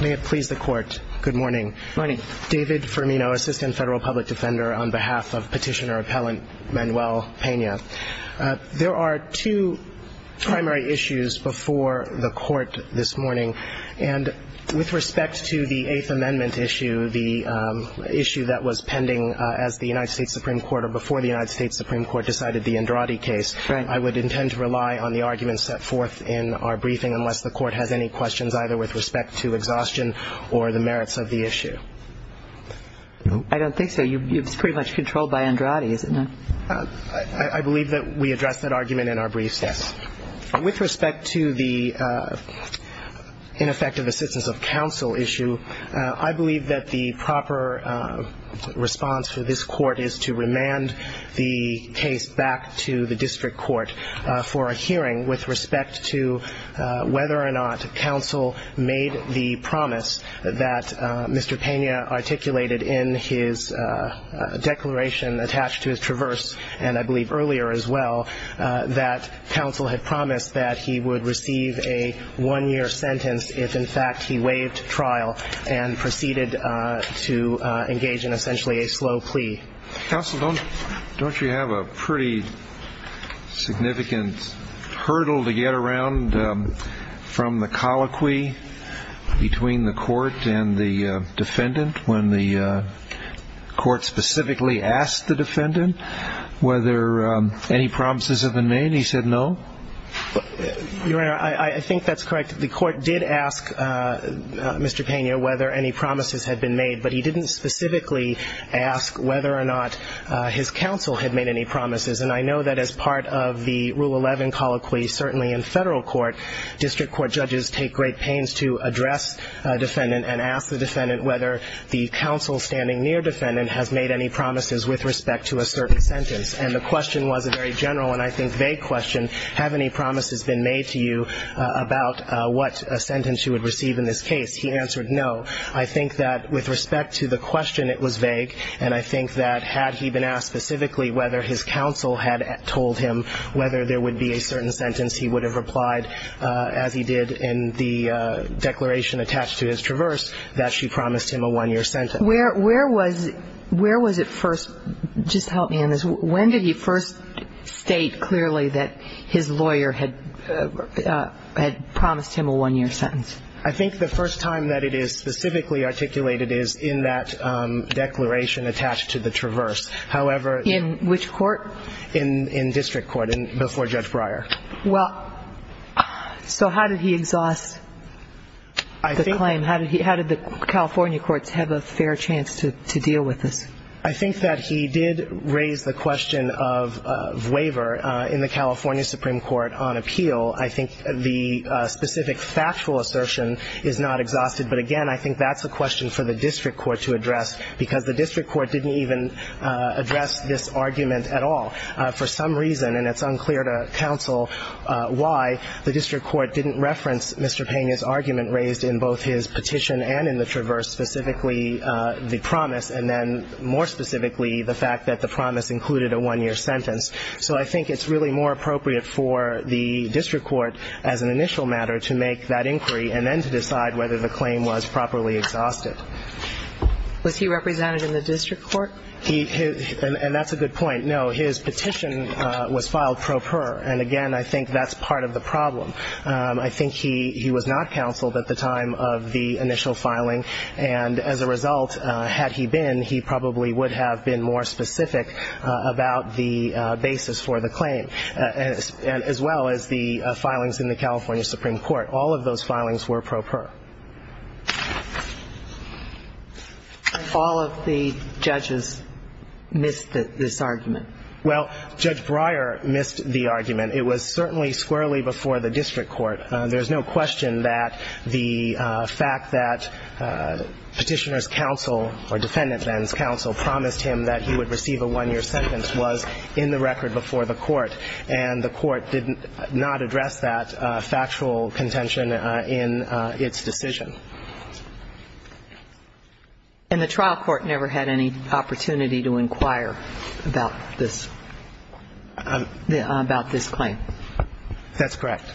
May it please the Court. Good morning. David Firmino, Assistant Federal Public Defender on behalf of Petitioner-Appellant Manuel Pena. There are two primary issues before the Court this morning. And with respect to the Eighth Amendment issue, the issue that was pending as the United States Supreme Court or before the United States Supreme Court decided the Andrade case, I would intend to rely on the arguments set forth in our briefing unless the Court has any questions either with respect to exhaustion or the merits of the issue. I don't think so. It's pretty much controlled by Andrade, isn't it? I believe that we addressed that argument in our briefs. With respect to the ineffective assistance of counsel issue, I believe that the proper response for this Court is to remand the case back to the district court for a hearing with respect to whether or not counsel made the promise that Mr. Pena articulated in his declaration attached to his traverse, and I believe earlier as well, that counsel had promised that he would receive a one-year sentence if, in fact, he waived trial and proceeded to engage in essentially a slow plea. Counsel, don't you have a pretty significant hurdle to get around from the colloquy between the Court and the defendant when the Court specifically asked the defendant whether any promises have been made and he said no? Your Honor, I think that's correct. The Court did ask Mr. Pena whether any promises had been made, but he didn't specifically ask whether or not his counsel had made any promises, and I know that as part of the Rule 11 colloquy, certainly in federal court, district court judges take great pains to address a defendant and ask the defendant whether the counsel standing near defendant has made any promises with respect to a certain sentence, and the question was a very general and I think vague question, have any promises been made to you about what sentence you would receive in this case? He answered no. I think that with respect to the question, it was vague, and I think that had he been asked specifically whether his counsel had told him whether there would be a certain sentence, he would have replied as he did in the declaration attached to his traverse that she promised him a one-year sentence. Where was it first? Just help me on this. When did he first state clearly that his lawyer had promised him a one-year sentence? I think the first time that it is specifically articulated is in that declaration attached to the traverse. However, In which court? In district court before Judge Breyer. Well, so how did he exhaust the claim? How did the California courts have a fair chance to deal with this? I think that he did raise the question of waiver in the California Supreme Court on appeal. I think the specific factual assertion is not exhausted, but again I think that's a question for the district court to address because the district court didn't even address this argument at all. For some reason, and it's unclear to counsel why, the district court didn't reference Mr. Pena's argument raised in both his petition and in the traverse, specifically the promise and then more specifically the fact that the promise included a one-year sentence. So I think it's really more appropriate for the district court as an initial matter to make that inquiry and then to decide whether the claim was properly exhausted. Was he represented in the district court? And that's a good point. No, his petition was filed pro per, and again I think that's part of the problem. I think he was not counseled at the time of the initial filing, and as a result, had he been, he probably would have been more specific about the basis for the claim, as well as the filings in the California Supreme Court. All of those filings were pro per. All of the judges missed this argument. Well, Judge Breyer missed the argument. It was certainly squarely before the district court. There's no question that the fact that Petitioner's counsel or Defendant Venn's counsel promised him that he would receive a one-year sentence was in the record before the court, and the court did not address that factual contention in its decision. And the trial court never had any opportunity to inquire about this, about this claim. That's correct.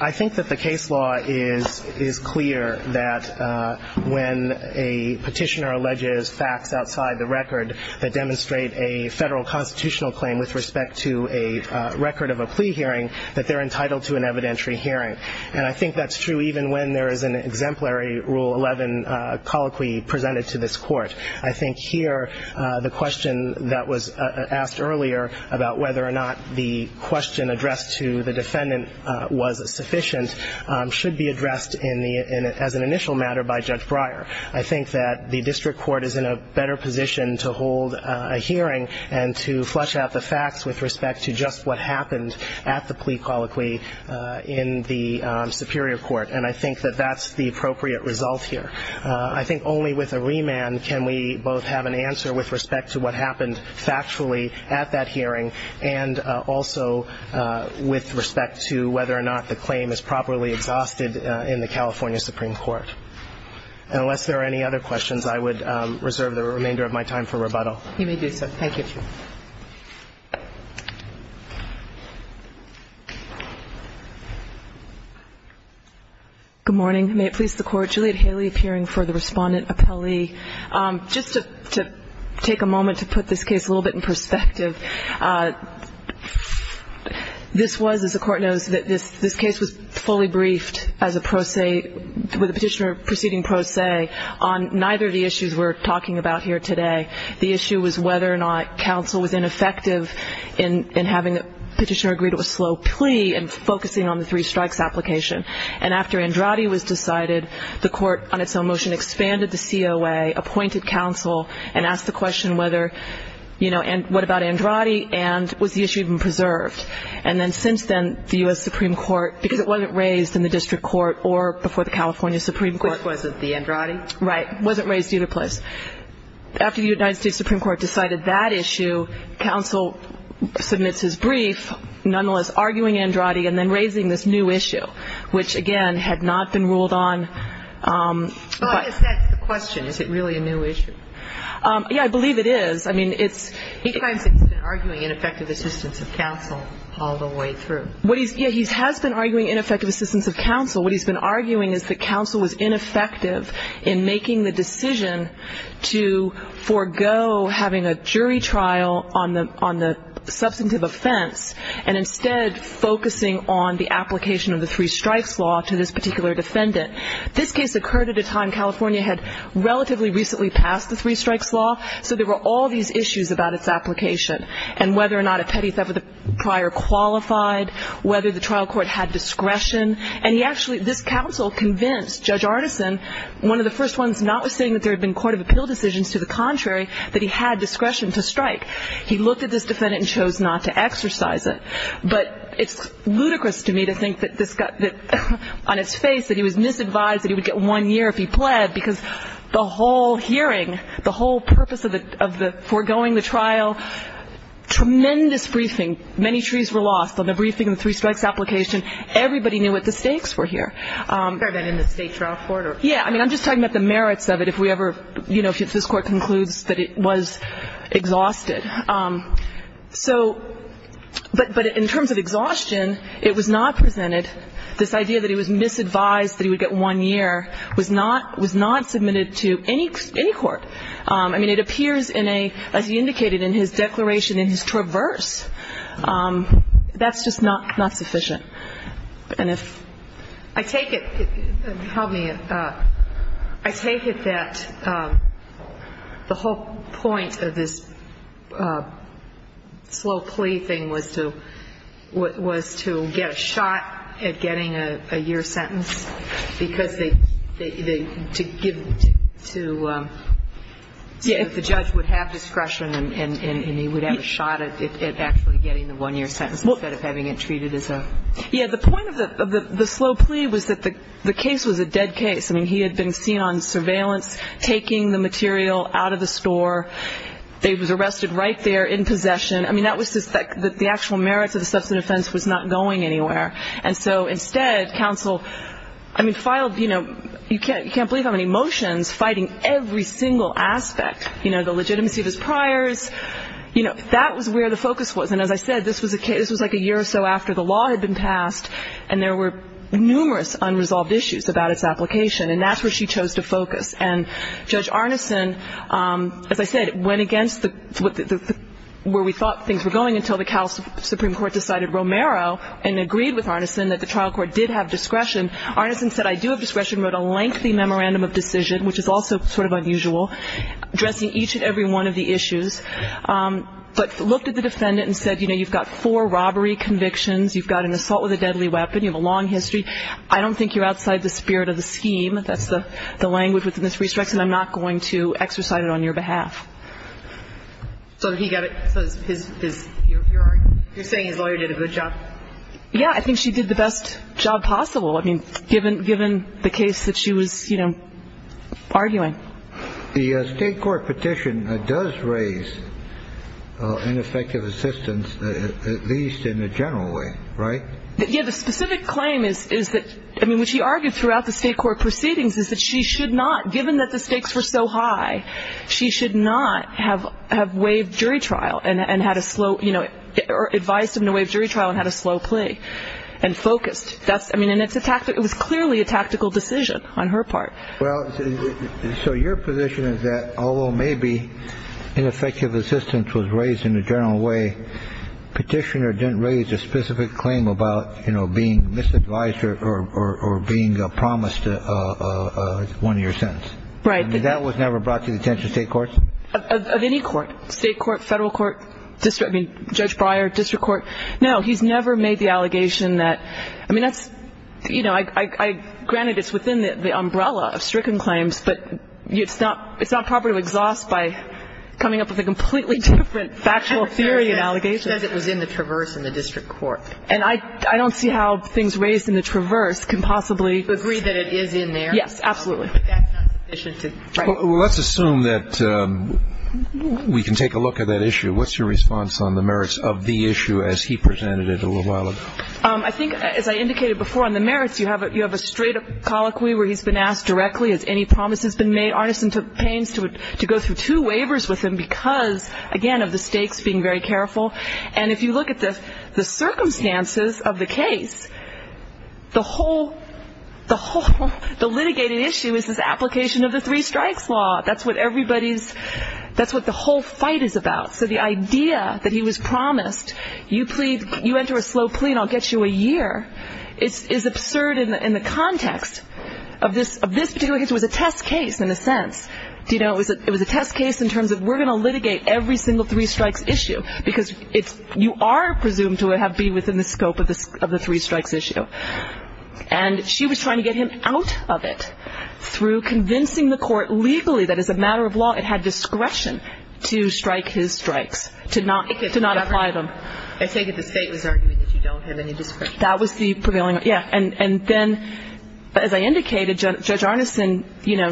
I think that the case law is clear that when a petitioner alleges facts outside the record that demonstrate a federal constitutional claim with respect to a record of a plea hearing, that they're entitled to an evidentiary hearing, and I think that's true even when there is an exemplary Rule 11 colloquy presented to this court. I think here the question that was asked earlier about whether or not the question addressed to the defendant was sufficient should be addressed as an initial matter by Judge Breyer. I think that the district court is in a better position to hold a hearing and to flush out the facts with respect to just what happened at the plea colloquy in the superior court, and I think that that's the appropriate result here. I think only with a remand can we both have an answer with respect to what happened factually at that hearing and also with respect to whether or not the claim is properly exhausted in the California Supreme Court. And unless there are any other questions, I would reserve the remainder of my time for rebuttal. You may do so. Thank you. Good morning. May it please the Court. Juliet Haley appearing for the Respondent Appellee. Just to take a moment to put this case a little bit in perspective. This was, as the Court knows, that this case was fully briefed as a pro se, with a petitioner proceeding pro se on neither of the issues we're talking about here today. The issue was whether or not counsel was ineffective in having a petitioner agree to a slow plea and focusing on the three strikes application. And after Andrade was decided, the Court, on its own motion, expanded the COA, appointed counsel, and asked the question whether, you know, what about Andrade, and was the issue even preserved. And then since then, the U.S. Supreme Court, because it wasn't raised in the district court or before the California Supreme Court. Which wasn't the Andrade? Right. It wasn't raised either place. After the United States Supreme Court decided that issue, counsel submits his brief, nonetheless arguing Andrade and then raising this new issue, which, again, had not been ruled on. Well, I guess that's the question. Is it really a new issue? Yeah, I believe it is. I mean, it's... He claims that he's been arguing ineffective assistance of counsel all the way through. Yeah, he has been arguing ineffective assistance of counsel. What he's been arguing is that counsel was ineffective in making the decision to forego having a jury trial on the substantive offense and instead focusing on the application of the three strikes law to this particular defendant. This case occurred at a time California had relatively recently passed the three strikes law, so there were all these issues about its application and whether or not a petty theft of the prior qualified, whether the trial court had discretion. And he actually, this counsel convinced Judge Artisan, one of the first ones notwithstanding that there had been court of appeal decisions, to the contrary, that he had discretion to strike. He looked at this defendant and chose not to exercise it. But it's ludicrous to me to think that this got on its face, that he was misadvised that he would get one year if he pled, because the whole hearing, the whole purpose of the foregoing the trial, tremendous briefing. Many trees were lost on the briefing of the three strikes application. Everybody knew what the stakes were here. Kagan in the state trial court? Yeah. I mean, I'm just talking about the merits of it if we ever, you know, if this Court concludes that it was exhausted. So, but in terms of exhaustion, it was not presented, this idea that he was misadvised that he would get one year was not submitted to any court. I mean, it appears in a, as he indicated in his declaration in his traverse, that's just not sufficient. And if I take it, help me, I take it that the whole point of this slow plea thing was to, was to get a shot at getting a year sentence because they, to give, to, if the judge would have discretion and he would have a shot at actually getting the one-year sentence instead of having it treated as a. Yeah, the point of the slow plea was that the case was a dead case. I mean, he had been seen on surveillance taking the material out of the store. He was arrested right there in possession. I mean, that was just that the actual merits of the substance offense was not going anywhere. And so instead, counsel, I mean, filed, you know, you can't believe how many motions fighting every single aspect. You know, the legitimacy of his priors. You know, that was where the focus was. And as I said, this was a case, this was like a year or so after the law had been passed and there were numerous unresolved issues about its application. And that's where she chose to focus. And Judge Arneson, as I said, went against where we thought things were going until the Supreme Court decided Romero and agreed with Arneson that the trial court did have discretion. Arneson said, I do have discretion, wrote a lengthy memorandum of decision, But looked at the defendant and said, you know, you've got four robbery convictions. You've got an assault with a deadly weapon. You have a long history. I don't think you're outside the spirit of the scheme. That's the language within this restriction. I'm not going to exercise it on your behalf. So he got it. You're saying his lawyer did a good job. Yeah. I think she did the best job possible. I mean, given the case that she was, you know, arguing. The state court petition does raise ineffective assistance, at least in a general way, right? Yeah. The specific claim is that, I mean, what she argued throughout the state court proceedings is that she should not, given that the stakes were so high, she should not have waived jury trial and had a slow, you know, or advised him to waive jury trial and had a slow plea and focused. That's, I mean, and it's a tactic. It was clearly a tactical decision on her part. Well, so your position is that although maybe ineffective assistance was raised in a general way, petitioner didn't raise a specific claim about, you know, being misadvised or being promised one year sentence. Right. That was never brought to the attention of state courts? Of any court, state court, federal court, district, I mean, Judge Breyer, district court. No, he's never made the allegation that, I mean, that's, you know, granted it's within the umbrella of stricken claims, but it's not proper to exhaust by coming up with a completely different factual theory and allegation. He says it was in the traverse in the district court. And I don't see how things raised in the traverse can possibly. Agree that it is in there. Yes, absolutely. That's not sufficient to, right. Well, let's assume that we can take a look at that issue. What's your response on the merits of the issue as he presented it a little while ago? I think, as I indicated before on the merits, you have a straight colloquy where he's been asked directly, has any promises been made? Arneson took pains to go through two waivers with him because, again, of the stakes, being very careful. And if you look at the circumstances of the case, the whole, the whole, the litigated issue is this application of the three strikes law. That's what everybody's, that's what the whole fight is about. So the idea that he was promised, you enter a slow plea and I'll get you a year, is absurd in the context of this particular case. It was a test case in a sense. It was a test case in terms of we're going to litigate every single three strikes issue because you are presumed to be within the scope of the three strikes issue. And she was trying to get him out of it through convincing the court legally that as a matter of law it had discretion to strike his strikes, to not apply them. I take it the state was arguing that you don't have any discretion. That was the prevailing, yeah. And then, as I indicated, Judge Arneson, you know,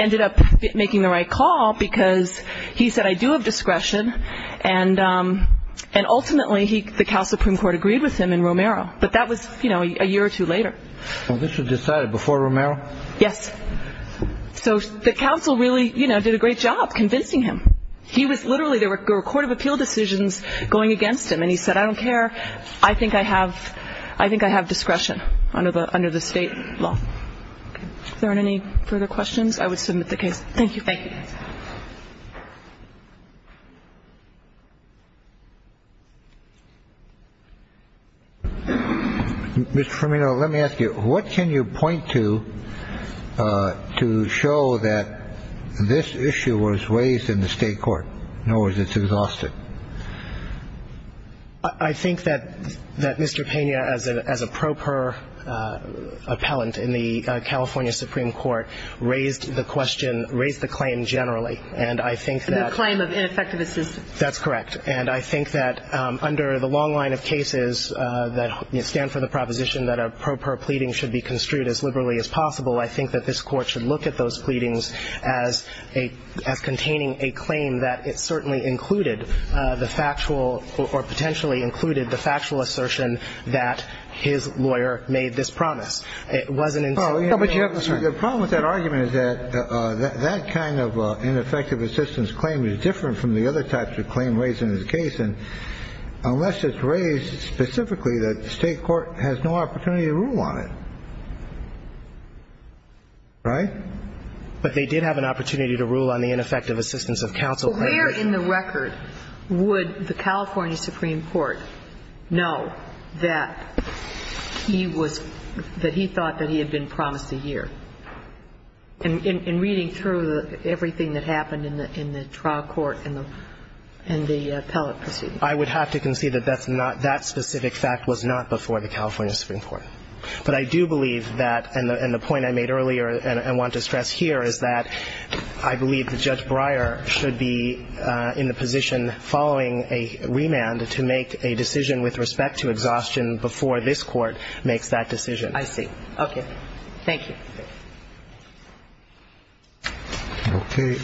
ended up making the right call because he said, I do have discretion, and ultimately the Cal Supreme Court agreed with him in Romero. But that was, you know, a year or two later. So this was decided before Romero? Yes. So the counsel really, you know, did a great job convincing him. He was literally, there were court of appeal decisions going against him, and he said, I don't care, I think I have discretion under the state law. Okay. If there aren't any further questions, I would submit the case. Thank you. Mr. Firmino, let me ask you, what can you point to to show that this issue was raised in the state court? In other words, it's exhausted. I think that Mr. Pena, as a proper appellant in the California Supreme Court, raised the question, raised the claim generally. And I think that. The claim of ineffective assistance. That's correct. And I think that under the long line of cases that stand for the proposition that a proper pleading should be construed as liberally as possible, I think that this Court should look at those pleadings as containing a claim that it certainly included the factual or potentially included the factual assertion that his lawyer made this promise. It wasn't until. The problem with that argument is that that kind of ineffective assistance claim is different from the other types of claim raised in this case. And unless it's raised specifically that the state court has no opportunity to rule on it, right? But they did have an opportunity to rule on the ineffective assistance of counsel. But where in the record would the California Supreme Court know that he was, that he thought that he had been promised a year? In reading through everything that happened in the trial court and the appellate proceedings. I would have to concede that that's not, that specific fact was not before the California Supreme Court. But I do believe that, and the point I made earlier and I want to stress here is that I believe that Judge Breyer should be in the position following a remand to make a decision with respect to exhaustion before this Court makes that decision. I see. Okay. Thank you. Okay.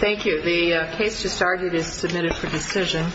Thank you. The case just argued is submitted for decision.